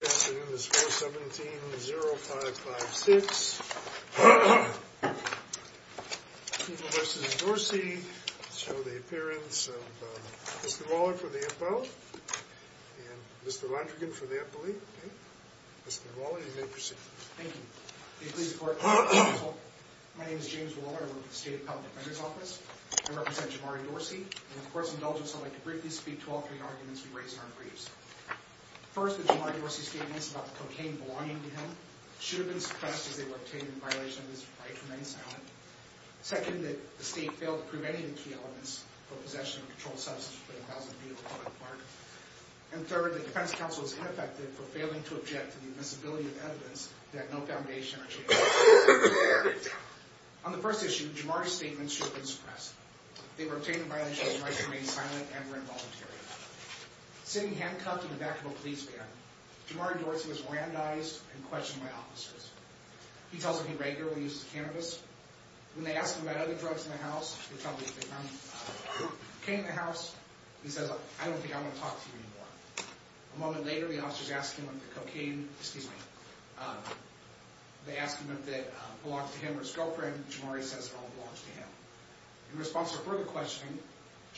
Good afternoon, this is 417-0556. People v. Dorsey. I'll show the appearance of Mr. Waller for the FL and Mr. Londrigan for the FLE. Mr. Waller, you may proceed. Thank you. May it please the Court, Mr. Counsel. My name is James Waller. I work for the State Appellate Defender's Office. I represent Jamari Dorsey. And the Court's indulgence, I'd like to briefly speak to all three arguments we raised in our briefs. First, the Jamari Dorsey statements about the cocaine belonging to him should have been suppressed as they were obtained in violation of his right to remain silent. Second, that the State failed to prove any of the key elements for possession of a controlled substance for the house of Beale Park. And third, that the Defense Counsel is ineffective for failing to object to the invisibility of evidence that no foundation or chain of evidence exists. On the first issue, Jamari's statements should have been suppressed. They were obtained in violation of his right to remain silent and were involuntary. Sitting handcuffed in the back of a police van, Jamari Dorsey was randized and questioned by officers. He tells them he regularly uses cannabis. When they ask him about other drugs in the house, they tell him that they found cocaine in the house. He says, I don't think I'm going to talk to you anymore. A moment later, the officers ask him about the cocaine. Excuse me. They ask him if it belonged to him or his girlfriend. Jamari says it all belongs to him. In response to further questioning,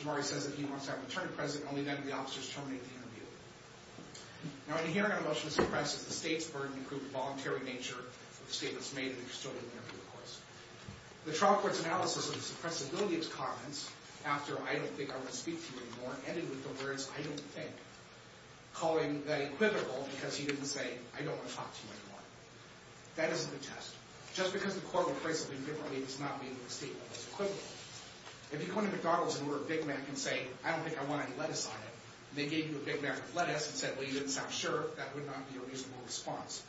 Jamari says that he wants to have an attorney present. Only then do the officers terminate the interview. Now, in hearing a motion to suppress, the state's burden proved voluntary in nature. The statement's made and it's still in the interview, of course. The trial court's analysis of the suppressibility of his comments after, I don't think I want to speak to you anymore, ended with the words, I don't think, calling that equivocal because he didn't say, I don't want to talk to you anymore. That is a good test. Just because the court will phrase something differently does not mean that the statement is equivocal. If you go into McDonald's and order a Big Mac and say, I don't think I want any lettuce on it, and they gave you a Big Mac with lettuce and said, well, you didn't sound sure, that would not be a reasonable response.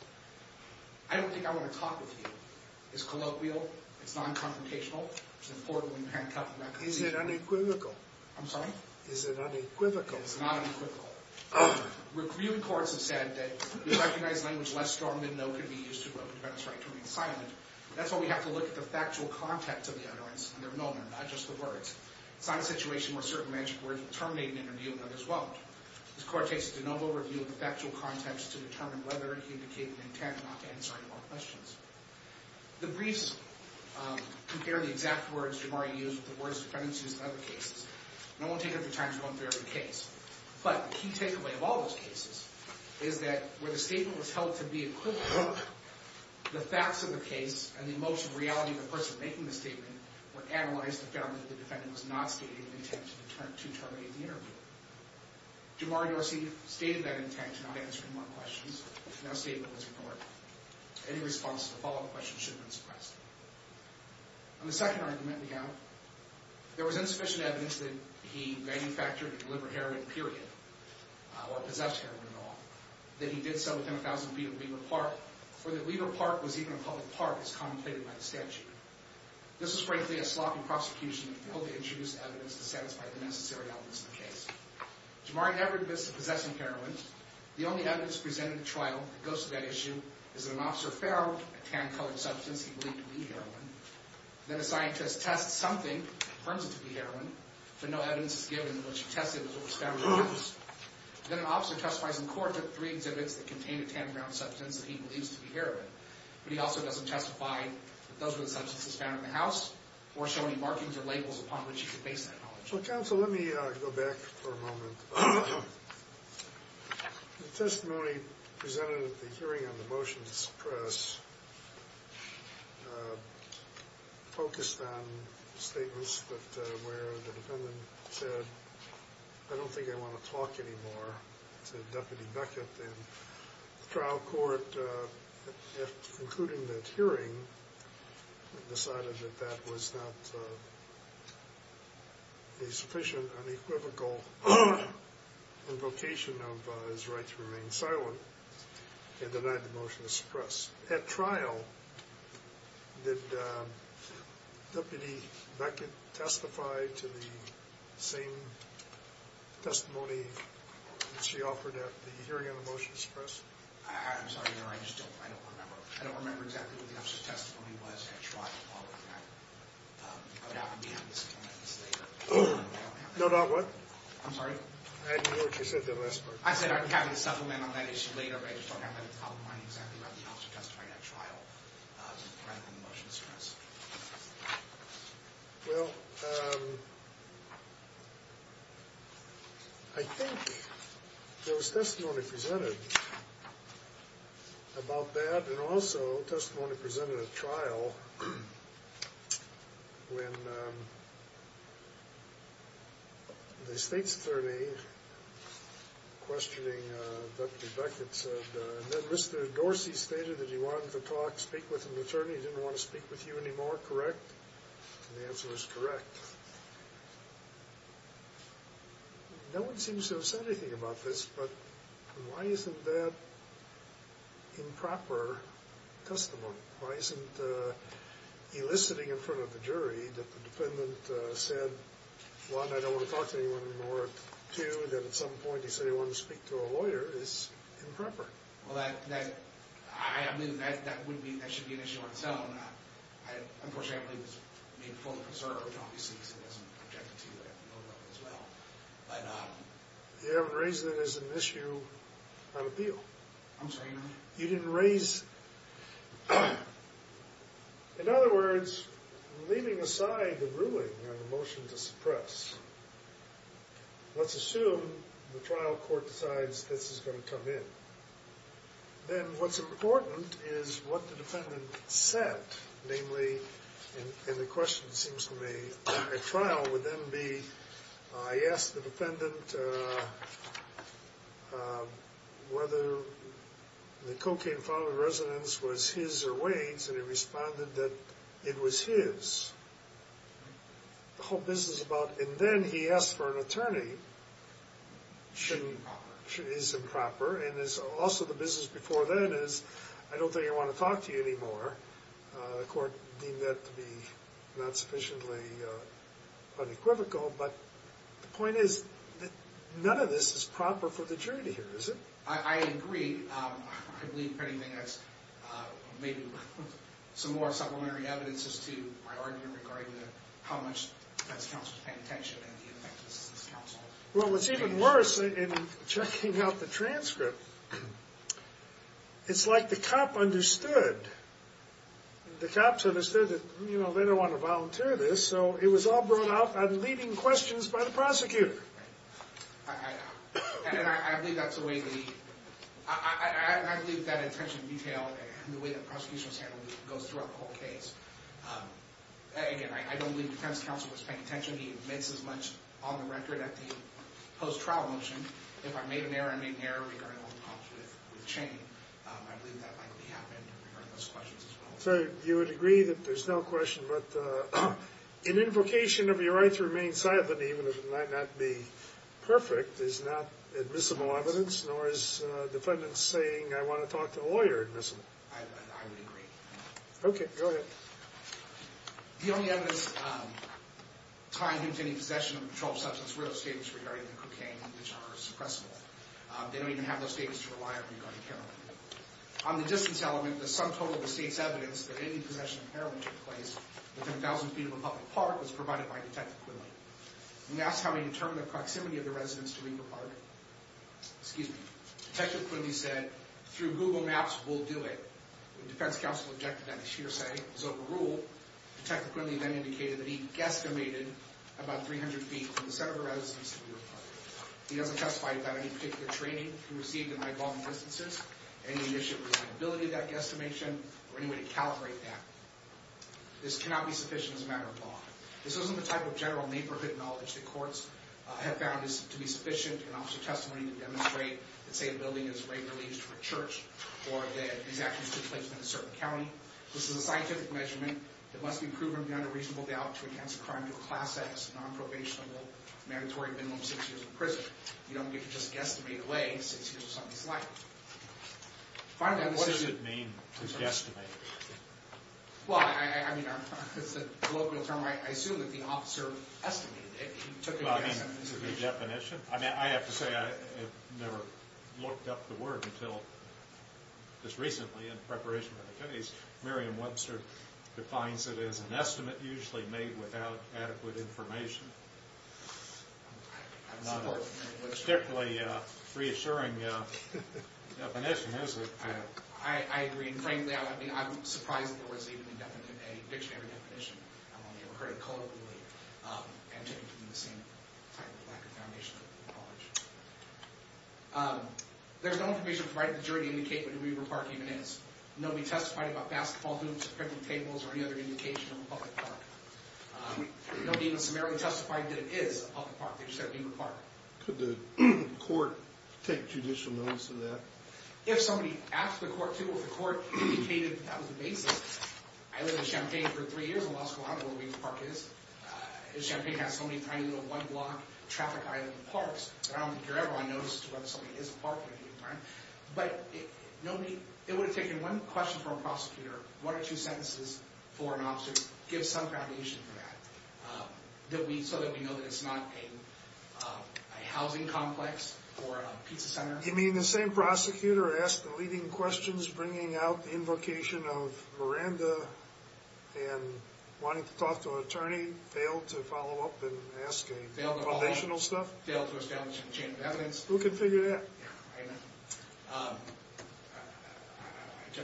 I don't think I want to talk with you. It's colloquial. It's non-confrontational. It's important when you can't come to that conclusion. Is it unequivocal? I'm sorry? Is it unequivocal? It's not unequivocal. Reviewed courts have said that the recognized language less strong than no can be used to represent us right to remain silent. That's why we have to look at the factual context of the utterance and their moment, not just the words. It's not a situation where certain magic words will terminate an interview and others won't. This court takes a de novo review of the factual context to determine whether it can indicate an intent not to answer any more questions. The briefs compare the exact words Jamari used with the words defendants used in other cases. And I won't take up the time to go through every case. But the key takeaway of all those cases is that where the statement was held to be equivocal, the facts of the case and the emotion and reality of the person making the statement were analyzed and found that the defendant was not stating an intent to terminate the interview. Jamari Dorsey stated that intent to not answer any more questions. That statement was ignored. Any response to a follow-up question should have been suppressed. On the second argument, there was insufficient evidence that he manufactured and delivered heroin, period, or possessed heroin at all. That he did so within a thousand feet of Weaver Park, or that Weaver Park was even a public park, as contemplated by the statute. This was, frankly, a sloppy prosecution that failed to introduce evidence to satisfy the necessary elements of the case. Jamari never admits to possessing heroin. The only evidence presented in the trial that goes to that issue is that an officer found a tan-colored substance he believed to be heroin. Then a scientist tests something that confirms it to be heroin, but no evidence is given that what she tested was what was found in the substance. Then an officer testifies in court to three exhibits that contained a tan-brown substance that he believes to be heroin. But he also doesn't testify that those were the substances found in the house or show any markings or labels upon which he could base that knowledge. Well, counsel, let me go back for a moment. The testimony presented at the hearing on the motion to suppress focused on statements where the defendant said, I don't think I want to talk anymore to Deputy Beckett. And the trial court, at concluding that hearing, decided that that was not a sufficient, unequivocal invocation of his right to remain silent and denied the motion to suppress. At trial, did Deputy Beckett testify to the same testimony that she offered at the hearing on the motion to suppress? I'm sorry, Your Honor, I just don't remember. I don't remember exactly what the officer's testimony was at trial. No, not what? I'm sorry? I didn't hear what you said in the last part. I said I'd be having a supplement on that issue later, but I just don't remember how exactly the officer testified at trial to the crime of the motion to suppress. Well, I think there was testimony presented about that and also testimony presented at trial when the state's attorney questioning Deputy Beckett said, Mr. Dorsey stated that he wanted to talk, speak with an attorney. He didn't want to speak with you anymore, correct? And the answer was correct. No one seems to have said anything about this, but why isn't that improper testimony? Why isn't eliciting in front of the jury that the defendant said, one, I don't want to talk to anyone anymore, two, that at some point he said he wanted to speak to a lawyer, is improper? Well, I mean, that would be, that should be an issue on its own. Unfortunately, I believe it's being fully preserved, obviously, so it doesn't object to that as well. You haven't raised it as an issue on appeal. I'm sorry, Your Honor? You didn't raise, in other words, leaving aside the ruling on the motion to suppress, let's assume the trial court decides this is going to come in. Then what's important is what the defendant said, namely, and the question seems to me at trial would then be, I asked the defendant whether the cocaine found in the residence was his or Wade's, and he responded that it was his. The whole business about, and then he asked for an attorney, is improper, and also the business before then is, I don't think I want to talk to you anymore. The court deemed that to be not sufficiently unequivocal, but the point is that none of this is proper for the jury to hear, is it? I agree. I believe, if anything, that's maybe some more supplementary evidence as to my argument regarding how much defense counsel is paying attention and the effectiveness of this counsel. Well, it's even worse in checking out the transcript. It's like the cop understood. The cops understood that, you know, they don't want to volunteer this, so it was all brought out on leading questions by the prosecutor. And I believe that's the way the, I believe that attention to detail and the way that prosecution is handled goes throughout the whole case. Again, I don't believe defense counsel was paying attention. He makes as much on the record at the post-trial motion. If I made an error, I made an error regarding all the cops with chain. I believe that likely happened regarding those questions as well. So you would agree that there's no question, but an invocation of your right to remain silent, even if it might not be perfect, is not admissible evidence, nor is defendants saying, I want to talk to a lawyer, admissible. I would agree. Okay, go ahead. The only evidence tied into any possession of a controlled substance were those statements regarding the cocaine, which are suppressible. They don't even have those statements to rely on regarding heroin. On the distance element, the sum total of the state's evidence that any possession of heroin took place within 1,000 feet of a public park was provided by Detective Quinley. When asked how he determined the proximity of the residence to Weaver Park, excuse me, Detective Quinley said, through Google Maps, we'll do it. The defense counsel objected to that sheer say. It was overruled. Detective Quinley then indicated that he guesstimated about 300 feet from the center of the residence to Weaver Park. He doesn't testify about any particular training he received in my involvement instances, any initial reliability of that guesstimation, or any way to calibrate that. This cannot be sufficient as a matter of law. This isn't the type of general neighborhood knowledge that courts have found to be sufficient in officer testimony to demonstrate that, say, a building is regularly used for a church or that these actions took place in a certain county. This is a scientific measurement that must be proven beyond a reasonable doubt to enhance a crime to a class-S, non-probationable, mandatory minimum six years in prison. You don't get to just guesstimate away six years of somebody's life. Finally, what does it mean to guesstimate? Well, I mean, it's a colloquial term. I assume that the officer estimated it. He took a guesstimate. Is it a definition? I mean, I have to say I've never looked up the word until just recently in preparation for the case. Merriam-Webster defines it as an estimate usually made without adequate information. It's not a particularly reassuring definition, is it? I agree. And frankly, I'm surprised that there was even a dictionary definition. I don't think I've ever heard it colloquially and taken from the same type of lack of foundation of the college. There's no information provided in the jury to indicate what a neighborhood park even is. Nobody testified about basketball hoops or picnic tables or any other indication of a public park. Nobody even summarily testified that it is a public park. They just said a neighborhood park. Could the court take judicial notice of that? If somebody asked the court to, if the court indicated that was the basis. I lived in Champaign for three years and lost count of where a neighborhood park is. Champaign has so many tiny little one-block traffic islands and parks that I don't think you're ever going to notice whether something is a park or a neighborhood park. But it would have taken one question from a prosecutor, one or two sentences for an officer to give some foundation for that. So that we know that it's not a housing complex or a pizza center. You mean the same prosecutor asked the leading questions bringing out the invocation of Miranda and wanting to talk to an attorney, failed to follow up and ask a foundational stuff? Failed to establish a chain of evidence. Who can figure that? I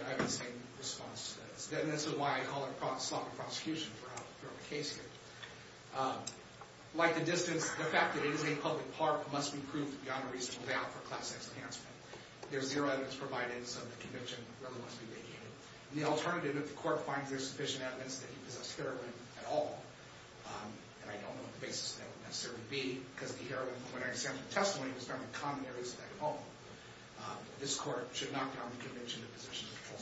have the same response. And this is why I call it sloppy prosecution for how to throw the case here. Like the distance, the fact that it is a public park must be proved beyond a reasonable doubt for class X enhancement. There's zero evidence provided, so the conviction really must be vacated. The alternative if the court finds there's sufficient evidence that he possessed heroin at all, and I don't know what the basis of that would necessarily be, because the heroin, when I examine the testimony, was found in common areas of that home. This court should knock down the conviction of possession of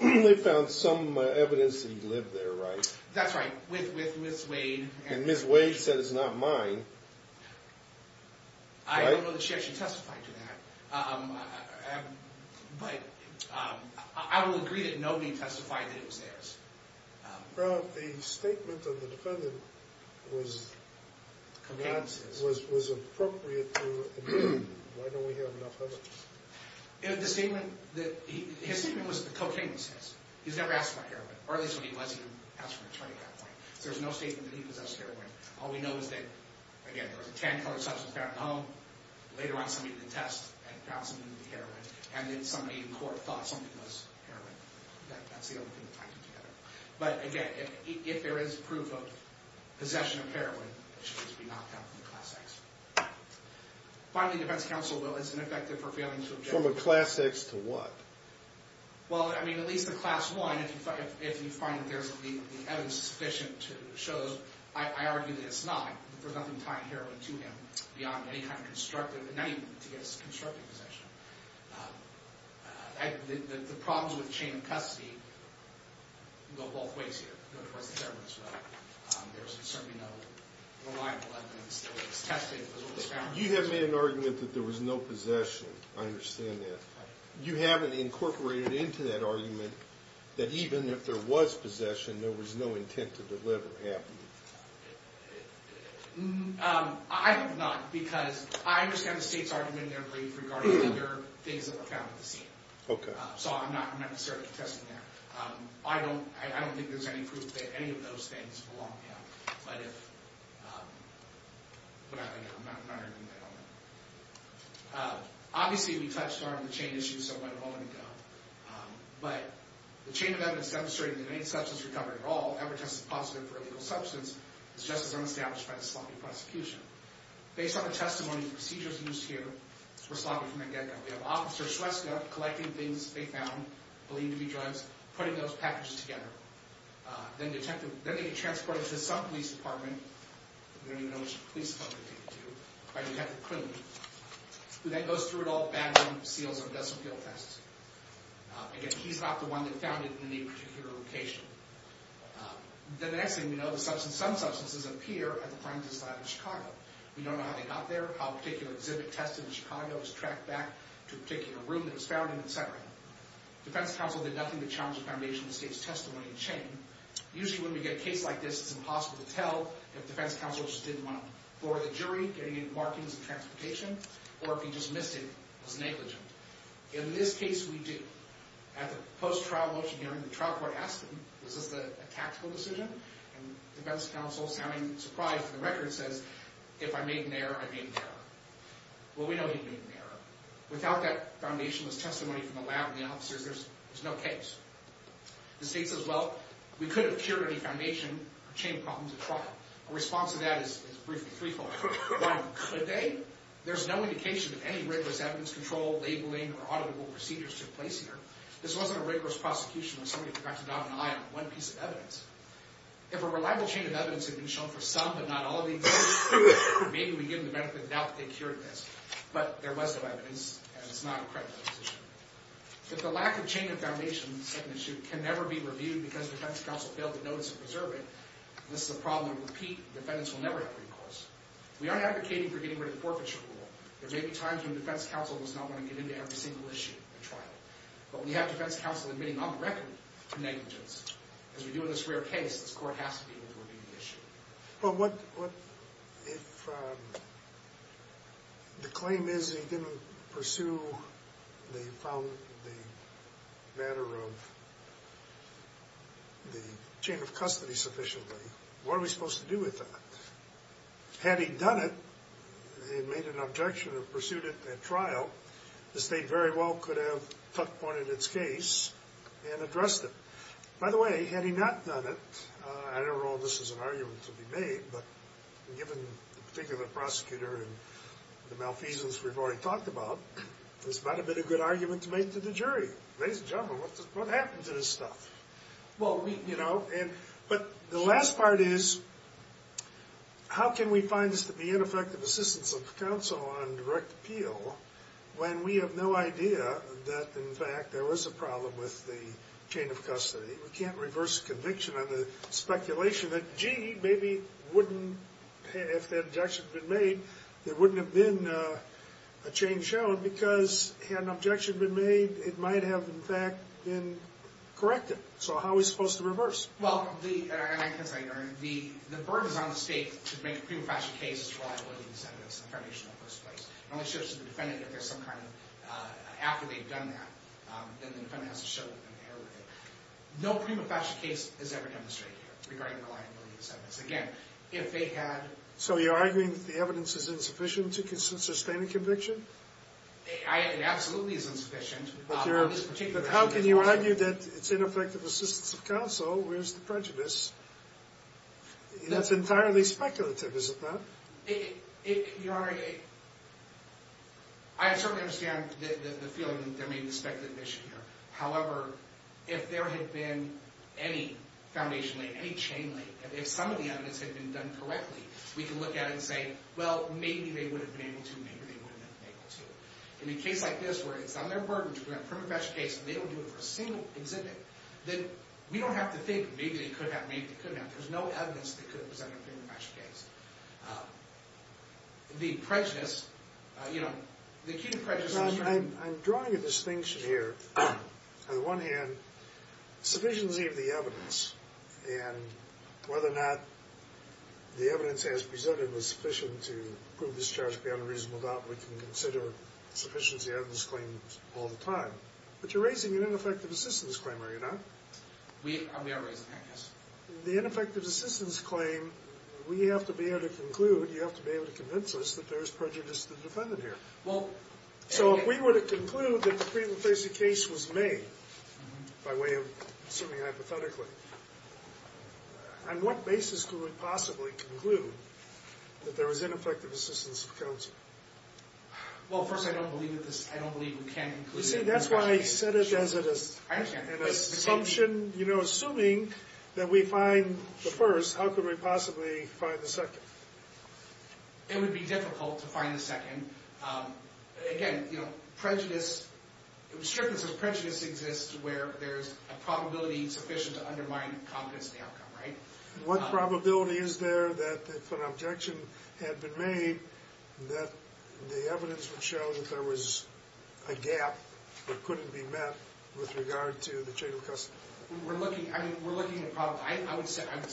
heroin. Well, they found some evidence that he lived there, right? That's right. With Ms. Wade. And Ms. Wade said it's not mine. I don't know that she actually testified to that. But I will agree that nobody testified that it was theirs. Well, the statement of the defendant was appropriate. Why don't we have enough evidence? His statement was cocaine was his. He's never asked for heroin, or at least when he was, he didn't ask for any at that point. There's no statement that he possessed heroin. All we know is that, again, there was a tan-colored substance found in the home. Later on, somebody did the test and found something to be heroin. And then somebody in court thought something was heroin. That's the only thing that ties them together. But, again, if there is proof of possession of heroin, it should just be knocked down from the Class X. Finally, defense counsel will, it's ineffective for failing to object. From a Class X to what? Well, I mean, at least in Class I, if you find that there's evidence sufficient to show, I argue that it's not. There's nothing tying heroin to him beyond any kind of constructive, to his constructive possession. The problems with chain of custody go both ways here. There's certainly no reliable evidence that was tested. You have made an argument that there was no possession. I understand that. You haven't incorporated into that argument that even if there was possession, there was no intent to deliver, have you? I have not, because I understand the State's argument in their brief regarding other things that were found at the scene. Okay. So I'm not necessarily contesting that. I don't think there's any proof that any of those things belong there. But if, but I don't know. I'm not arguing that. I don't know. Obviously, we touched on the chain issue so much a moment ago. But the chain of evidence demonstrating that any substance recovered at all ever tested positive for a legal substance is just as unestablished by the sloppy prosecution. Based on the testimony and procedures used here, we're sloppy from the get-go. We have Officer Shrestha collecting things they found, believed to be drugs, putting those packages together. Then they get transported to some police department. We don't even know which police department they get to. Who then goes through it all, bags them, seals them, does some field tests. Again, he's not the one that found it in any particular location. Then the next thing we know, some substances appear at the crime test lab in Chicago. We don't know how they got there, how a particular exhibit tested in Chicago was tracked back to a particular room that it was found in, etc. Defense counsel did nothing to challenge the foundation of the State's testimony and chain. Usually when we get a case like this, it's impossible to tell if defense counsel just didn't want to floor the jury, get any markings of transportation, or if he just missed it and was negligent. In this case, we do. At the post-trial motion hearing, the trial court asked him, is this a tactical decision? And defense counsel, sounding surprised at the record, says, if I made an error, I made an error. Well, we know he made an error. Without that foundationless testimony from the lab and the officers, there's no case. The State says, well, we could have cured any foundation or chain problems at trial. A response to that is briefly threefold. Why could they? There's no indication that any rigorous evidence control, labeling, or auditable procedures took place here. This wasn't a rigorous prosecution where somebody forgot to dot an I on one piece of evidence. If a reliable chain of evidence had been shown for some, but not all of the evidence, maybe we'd give them the benefit of the doubt that they cured this. But there was no evidence, and it's not a credible position. If the lack of chain of foundation, the second issue, can never be reviewed because defense counsel failed to notice and preserve it, this is a problem of repeat. Defendants will never have recourse. We aren't advocating for getting rid of the forfeiture rule. There may be times when defense counsel does not want to get into every single issue at trial. But we have defense counsel admitting on the record to negligence. As we do in this rare case, this court has to be able to review the issue. Well, what if the claim is he didn't pursue the matter of the chain of custody sufficiently? What are we supposed to do with that? Had he done it and made an objection and pursued it at trial, the state very well could have took point in its case and addressed it. By the way, had he not done it, I don't know if this is an argument to be made, but given the particular prosecutor and the malfeasance we've already talked about, this might have been a good argument to make to the jury. Ladies and gentlemen, what happened to this stuff? But the last part is, how can we find this to be ineffective assistance of counsel on direct appeal when we have no idea that, in fact, there was a problem with the chain of custody? We can't reverse conviction on the speculation that, gee, maybe if that objection had been made, there wouldn't have been a change shown because had an objection been made, it might have, in fact, been corrected. So how are we supposed to reverse? Well, as I learned, the burden is on the state to make a prima facie case as to the reliability of these evidence in the foundational first place. It only shifts to the defendant if there's some kind of, after they've done that, then the defendant has to show that they're okay with it. No prima facie case is ever demonstrated here regarding the reliability of these evidence. Again, if they had... So you're arguing that the evidence is insufficient to sustain a conviction? It absolutely is insufficient. But how can you argue that it's ineffective assistance of counsel? Where's the prejudice? That's entirely speculative, isn't that? Your Honor, I certainly understand the feeling that there may be a speculative issue here. However, if there had been any foundation, any chain, if some of the evidence had been done correctly, we can look at it and say, well, maybe they would have been able to, maybe they wouldn't have been able to. In a case like this where it's on their burden to present a prima facie case and they don't do it for a single exhibit, then we don't have to think maybe they could have, maybe they couldn't have. There's no evidence that could have presented a prima facie case. The prejudice, you know, the key to prejudice is... Your Honor, I'm drawing a distinction here. On the one hand, sufficiency of the evidence and whether or not the evidence as presented was sufficient to prove this charge beyond a reasonable doubt, we can consider sufficiency of this claim all the time. But you're raising an ineffective assistance claim, are you not? We are raising that, yes. The ineffective assistance claim, we have to be able to conclude, you have to be able to convince us that there is prejudice to the defendant here. So if we were to conclude that the prima facie case was made, by way of assuming hypothetically, on what basis could we possibly conclude that there was ineffective assistance of counsel? Well, first, I don't believe we can conclude... You see, that's why I said it as it is. I understand. Assumption, you know, assuming that we find the first, how could we possibly find the second? It would be difficult to find the second. Again, you know, prejudice, it was clear that some prejudice exists where there's a probability sufficient to undermine confidence in the outcome, right? What probability is there that if an objection had been made that the evidence would show that there was a gap that couldn't be met with regard to the chain of custody? We're looking, I mean, we're looking at... I would say, I would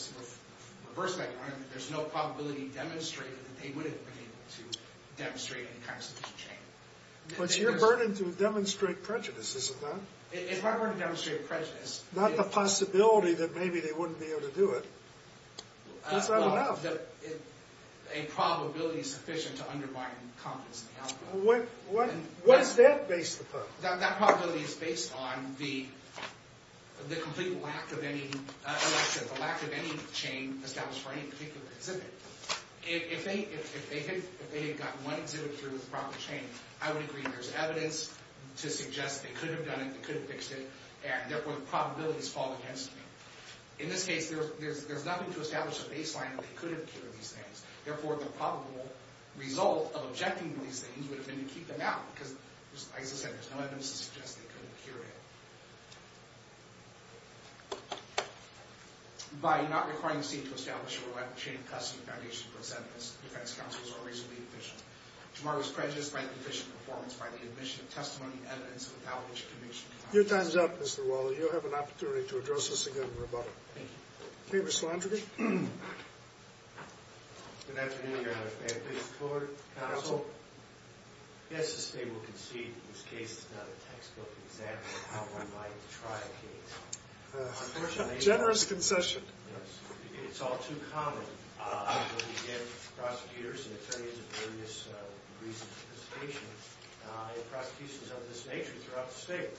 reverse that argument, that there's no probability demonstrated that they would have been able to demonstrate any kind of strategic change. But you're burning to demonstrate prejudice, isn't that? If I were to demonstrate prejudice... Not the possibility that maybe they wouldn't be able to do it. Is that enough? A probability sufficient to undermine confidence in the outcome. What is that based upon? That probability is based on the complete lack of any... The lack of any chain established for any particular exhibit. If they had gotten one exhibit through the proper chain, I would agree there's evidence to suggest they could have done it, they could have fixed it, and therefore the probabilities fall against me. In this case, there's nothing to establish a baseline that they could have cured these things. Therefore, the probable result of objecting to these things would have been to keep them out, because, as I said, there's no evidence to suggest they could have cured it. By not requiring the state to establish a chain of custody foundation for its evidence, defense counsels are reasonably efficient. Tomorrow's prejudice might be fished in performance by the admission of testimony, evidence, and establishment of conviction. Your time's up, Mr. Waller. You'll have an opportunity to address us again in rebuttal. Thank you. Okay, Mr. Landry. Good afternoon, Your Honor. May I please record, counsel? Yes, the state will concede that this case is not a textbook example of how one might try a case. Unfortunately... Generous concession. It's all too common. Prosecutors and attorneys of various degrees of sophistication have prosecutions of this nature throughout the state.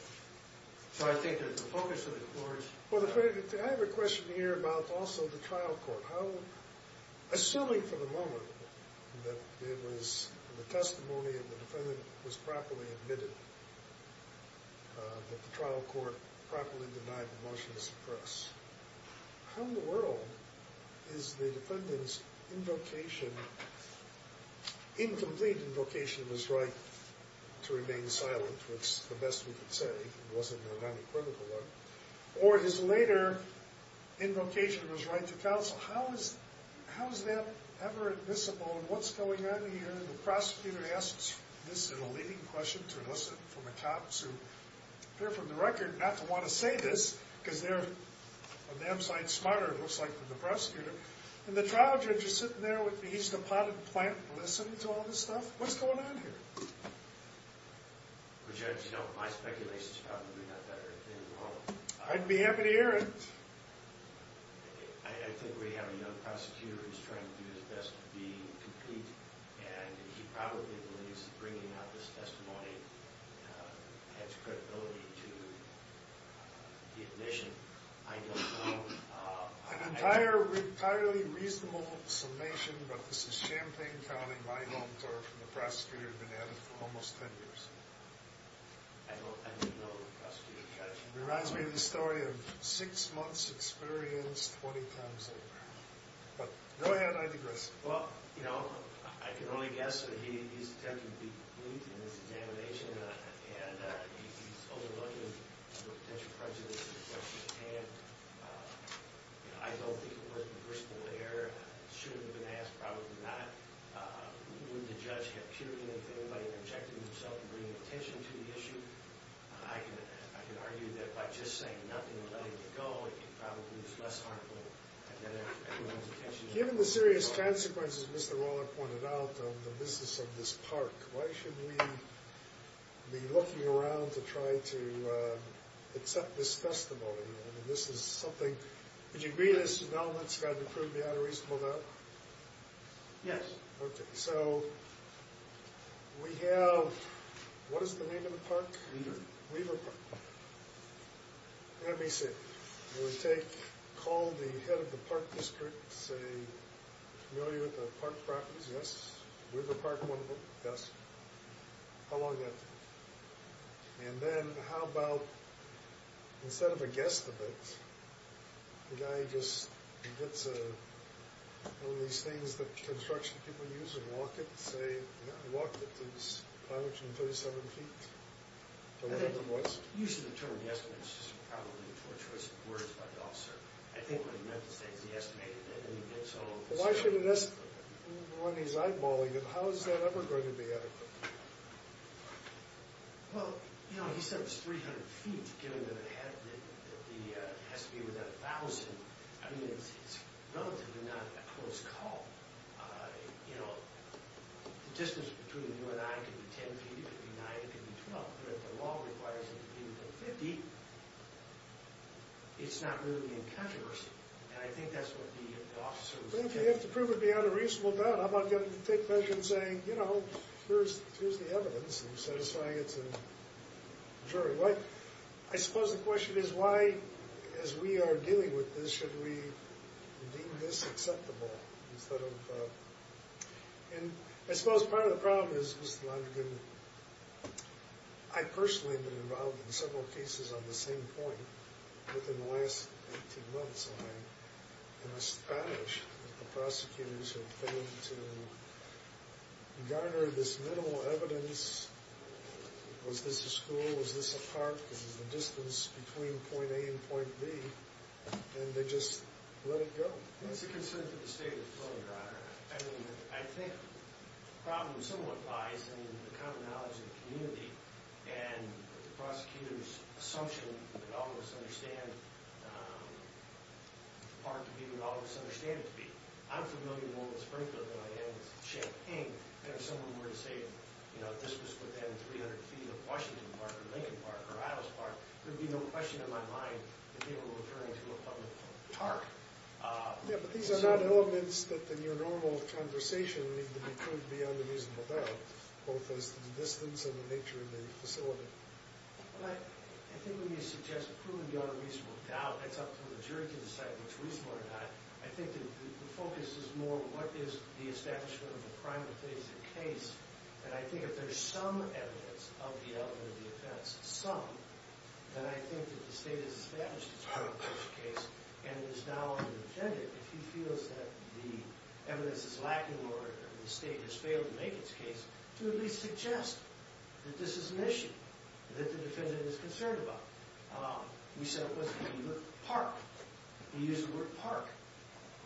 So I think that the focus of the court... I have a question here about also the trial court. How... Assuming for the moment that it was... the testimony of the defendant was properly admitted, that the trial court properly denied the motion to suppress, how in the world is the defendant's invocation... incomplete invocation of his right to remain silent, which is the best we can say, it wasn't an unequivocal one, or his later invocation of his right to counsel, how is that ever admissible? And what's going on here? The prosecutor asks this in a leading question to listen from the cops who appear from the record not to want to say this because they're a damn sight smarter, it looks like, than the prosecutor. And the trial judge is sitting there with me. He's the potted plant listening to all this stuff. What's going on here? Well, Judge, you know, my speculation is probably not that everything's wrong. I'd be happy to hear it. I think we have a young prosecutor who's trying to do his best to be complete, and he probably believes that bringing out this testimony adds credibility to the admission. I don't know. An entirely reasonable summation, but this is Champaign County, my home turf, and the prosecutor had been at it for almost ten years. I don't know the prosecutor, Judge. It reminds me of the story of six months experience, 20 times over. But go ahead, I digress. Well, you know, I can only guess that he's attempting to be complete in this examination, and he's overlooking the potential prejudices and questions. And, you know, I don't think it would have been a personal error. It shouldn't have been asked, probably not. Wouldn't the judge have cured anything by interjecting himself and bringing attention to the issue? I can argue that by just saying nothing and letting it go, it probably was less harmful than everyone's attention. Given the serious consequences Mr. Roller pointed out of the business of this park, why shouldn't we be looking around to try to accept this testimony? I mean, this is something. Would you agree this development's got to prove the unreasonable doubt? Yes. Okay. So, we have, what is the name of the park? Weaver. Weaver Park. Let me see. It would take, call the head of the park district, say, are you familiar with the park properties? Yes. Weaver Park, one of them? Yes. How long that take? And then, how about, instead of a guesstimate, the guy just gets one of these things that construction people use and walk it, and say, yeah, he walked it, it's 537 feet, or whatever it was. The use of the term guesstimate is just probably a torturous word to put it all, sir. I think what he meant to say is he estimated that when he gets home. Why shouldn't this, when he's eyeballing it, how is that ever going to be adequate? Well, you know, he said it was 300 feet, given that it has to be within 1,000. I mean, it's relatively not a close call. You know, the distance between you and I could be 10 feet, it could be 9, it could be 12, but if the law requires it to be within 50, it's not really in controversy. And I think that's what the officers think. Well, you have to prove it beyond a reasonable doubt. I'm not going to take measure and say, you know, here's the evidence, and satisfy it to the jury. I suppose the question is, why, as we are dealing with this, should we deem this acceptable? And I suppose part of the problem is, Mr. Londrigan, I personally have been involved in several cases on the same point within the last 18 months. And I'm astonished that the prosecutors have failed to garner this minimal evidence. Was this a school? Was this a park? This is the distance between point A and point B, and they just let it go. It's a concern for the state of the field, Your Honor. I mean, I think the problem somewhat lies in the common knowledge of the community and the prosecutor's assumption that all of us understand the park to be what all of us understand it to be. I'm familiar more with Springfield than I am with Champaign. And if someone were to say, you know, this was within 300 feet of Washington Park or Lincoln Park or Idaho Park, there would be no question in my mind that they were referring to a public park. Yeah, but these are not elements that, in your normal conversation, need to be proved beyond a reasonable doubt, both as to the distance and the nature of the facility. I think when you suggest proving beyond a reasonable doubt, it's up to the jury to decide which reasonable or not. I think the focus is more on what is the establishment of a primal case. And I think if there's some evidence of the element of the offense, some, then I think that the state has established a primal case and is now on the defendant if he feels that the evidence is lacking or the state has failed to make its case to at least suggest that this is an issue that the defendant is concerned about. You said it wasn't even a park. You used the word park.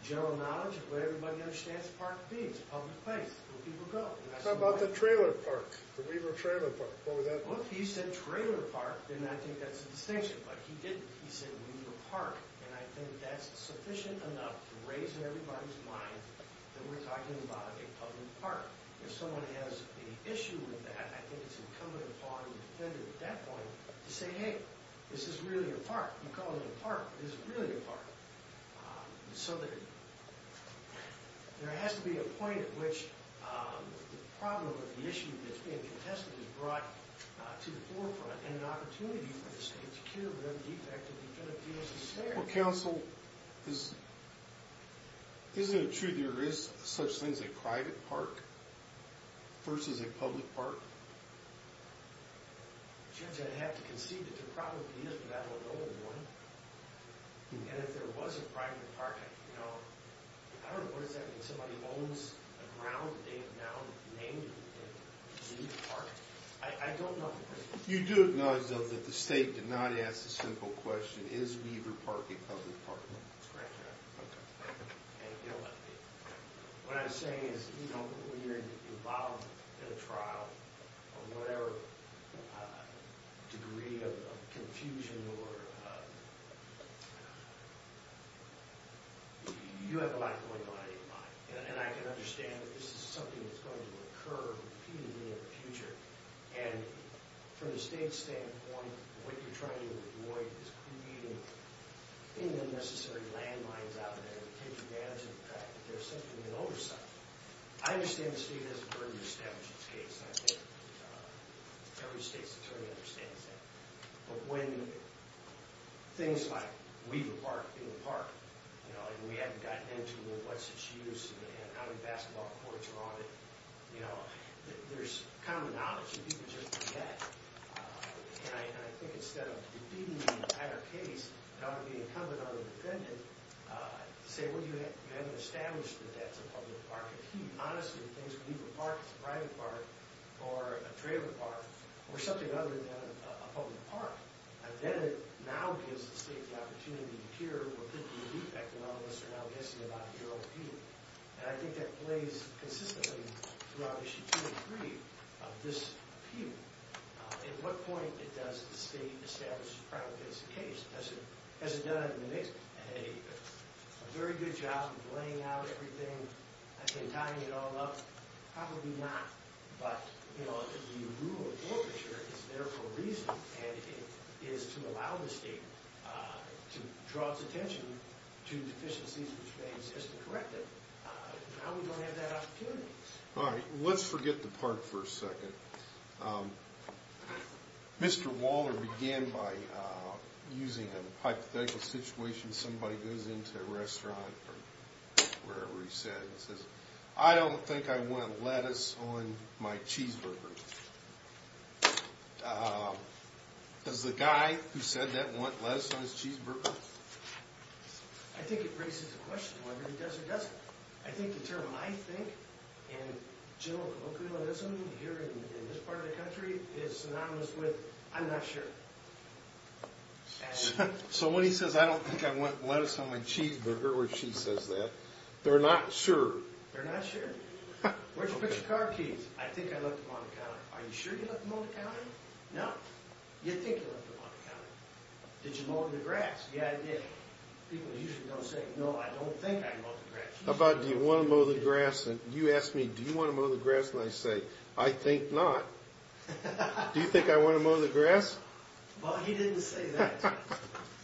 General knowledge of what everybody understands a park to be. It's a public place where people go. How about the trailer park, the Weaver trailer park? Look, he said trailer park, and I think that's a distinction, but he didn't. He said Weaver Park, and I think that's sufficient enough to raise in everybody's mind that we're talking about a public park. If someone has an issue with that, I think it's incumbent upon the defendant at that point to say, hey, this is really a park. You call it a park, but it's really a park. And so there has to be a point at which the problem or the issue that's being contested is brought to the forefront and an opportunity for the state to cure the defect that the defendant feels is there. Well, counsel, isn't it true there is such things as a private park versus a public park? Judge, I'd have to concede that there probably is, but I don't know of one. And if there was a private park, you know, I don't know, what does that mean? Somebody owns the ground that they have now named it Weaver Park? I don't know. You do acknowledge, though, that the state did not ask the simple question, is Weaver Park a public park? That's correct, Your Honor. Okay. What I'm saying is, you know, when you're involved in a trial of whatever degree of confusion or, you have a lot going on in your mind. And I can understand that this is something that's going to occur repeatedly in the future. And from the state's standpoint, what you're trying to avoid is creating any unnecessary landmines out there to take advantage of the fact that there's something in oversight. I understand the state has a burden to establish its case. I think every state's attorney understands that. But when things like Weaver Park being a park, you know, and we haven't gotten into what's its use and how many basketball courts are on it, you know, there's common knowledge and people just forget. And I think instead of defeating the entire case, it ought to be incumbent on the defendant to say, Well, you haven't established that that's a public park. If he honestly thinks that Weaver Park is a private park or a trailer park or something other than a public park, then it now gives the state the opportunity to hear what people think. And all of us are now guessing about your appeal. And I think that plays consistently throughout Issue 2 and 3 of this appeal. At what point does the state establish a private case? Has it done a very good job of laying out everything and tying it all up? Probably not. But, you know, the rule of forfeiture is there for a reason. And it is to allow the state to draw its attention to deficiencies which may exist to correct it. Now we don't have that opportunity. All right. Let's forget the park for a second. Mr. Waller began by using a hypothetical situation. Somebody goes into a restaurant or wherever he sat and says, I don't think I want lettuce on my cheeseburger. Does the guy who said that want lettuce on his cheeseburger? I think it raises the question whether he does or doesn't. I think the term I think in general colloquialism here in this part of the country is synonymous with I'm not sure. So when he says, I don't think I want lettuce on my cheeseburger, which he says that, they're not sure. They're not sure. Where'd you put your car keys? I think I left them on the counter. Are you sure you left them on the counter? No. You think you left them on the counter. Did you mow the grass? Yeah, I did. People usually don't say, no, I don't think I mowed the grass. How about do you want to mow the grass? And you ask me, do you want to mow the grass? And I say, I think not. Do you think I want to mow the grass? Well, he didn't say that.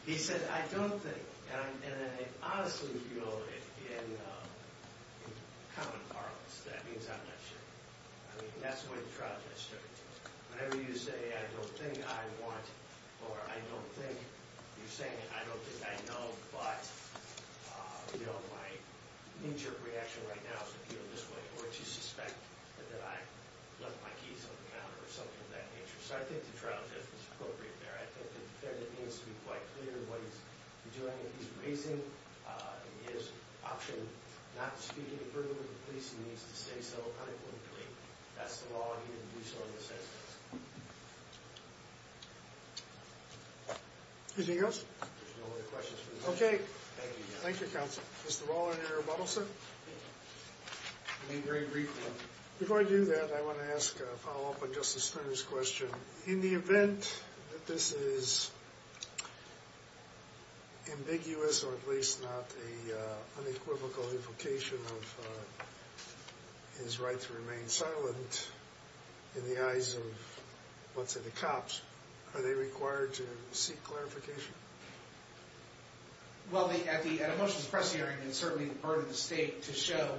He said, I don't think. And I honestly feel in common parlance that means I'm not sure. I mean, that's the way the trial judge took it. Whenever you say, I don't think I want, or I don't think, you're saying I don't think, I know, but my knee-jerk reaction right now is to feel this way, or to suspect that I left my keys on the counter, or something of that nature. So I think the trial judge was appropriate there. I think the defendant needs to be quite clear what he's doing. If he's raising his option not to speak any further to the police, he needs to say so unequivocally. That's the law. He didn't do so in this instance. Anything else? If there's no other questions, we're adjourned. Okay. Thank you, counsel. Mr. Waller and Eric Buttelson? I mean, very briefly. Before I do that, I want to ask a follow-up on Justice Stern's question. In the event that this is ambiguous, or at least not an unequivocal invocation of his right to remain silent, in the eyes of what's in the cops, are they required to seek clarification? Well, at a motions press hearing, it's certainly the burden of the state to show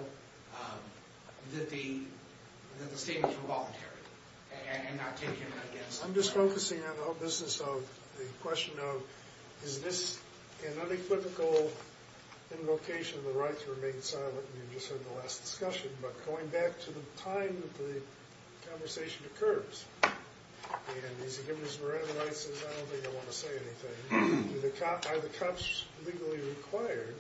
that the statements were voluntary and not taken against them. I'm just focusing on the whole business of the question of, is this an unequivocal invocation of the right to remain silent? You just heard the last discussion. But going back to the time that the conversation occurs, and he's given his right to say, I don't think I want to say anything. Are the cops legally required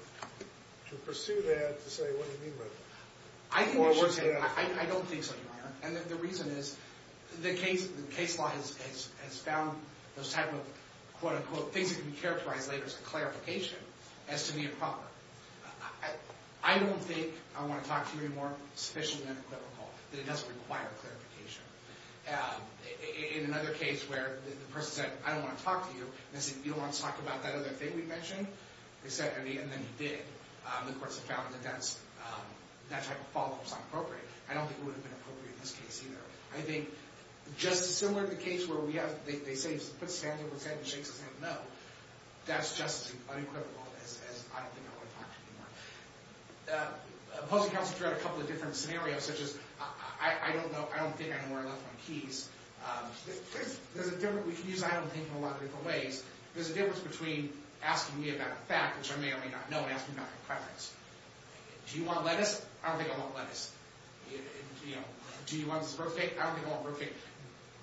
to pursue that to say, what do you mean by that? I don't think so, Your Honor. And the reason is, the case law has found those type of, quote-unquote, things that can be characterized later as a clarification, as to be improper. I don't think I want to talk to you anymore sufficiently unequivocal that it doesn't require clarification. In another case where the person said, I don't want to talk to you, and they said, you don't want to talk about that other thing we mentioned? And then he did. The courts have found that that type of follow-up is not appropriate. I don't think it would have been appropriate in this case, either. I think, just as similar to the case where they put stands over heads and shakes his head no, that's just as unequivocal as, I don't think I want to talk to you anymore. The opposing counsel tried a couple of different scenarios, such as, I don't think I know where I left my keys. We can use I don't think in a lot of different ways. There's a difference between asking me about a fact, which I may or may not know, and asking me about my credits. Do you want lettuce? I don't think I want lettuce. Do you want a birth date? I don't think I want a birth date.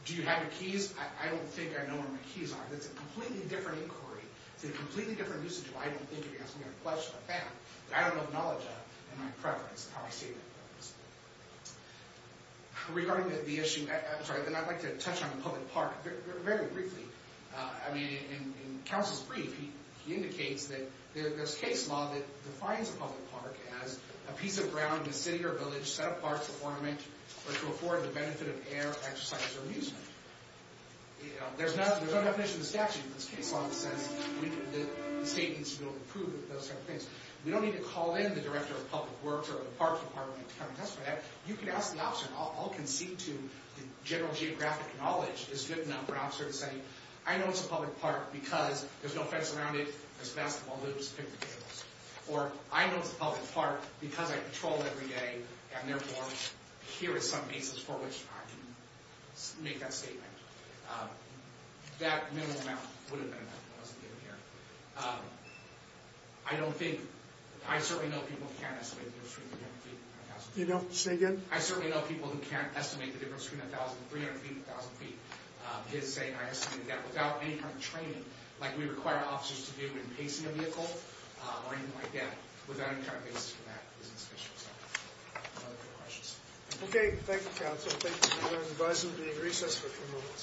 Do you have your keys? I don't think I know where my keys are. It's a completely different inquiry. It's a completely different usage of I don't think against me, or a question of a fact that I don't acknowledge in my preference, in how I state my preference. Regarding the issue, I'm sorry, then I'd like to touch on the public park very briefly. I mean, in counsel's brief, he indicates that there's case law that defines a public park as a piece of ground in a city or village set apart to ornament or to afford the benefit of air, exercise, or amusement. There's no definition of statute in this case law, in the sense that the state needs to be able to approve those type of things. We don't need to call in the director of public works or the parks department to come and testify to that. You can ask the officer, and I'll concede to the general geographic knowledge is good enough for an officer to say, I know it's a public park because there's no fence around it. There's basketball hoops and picnic tables. Or, I know it's a public park because I patrol it every day, and therefore, here is some basis for which I can make that statement. That minimal amount would have been enough if it wasn't given here. I don't think, I certainly know people who can't estimate the difference between 1,000 and 300 feet, 1,000 feet. I certainly know people who can't estimate the difference between 1,000 and 300 feet, 1,000 feet. His saying, I estimate that without any kind of training, like we require officers to do in pacing a vehicle, or anything like that, without any kind of basis for that is insufficient. Any other questions? Okay, thank you, counsel. Thank you. I advise you to be in recess for a few moments.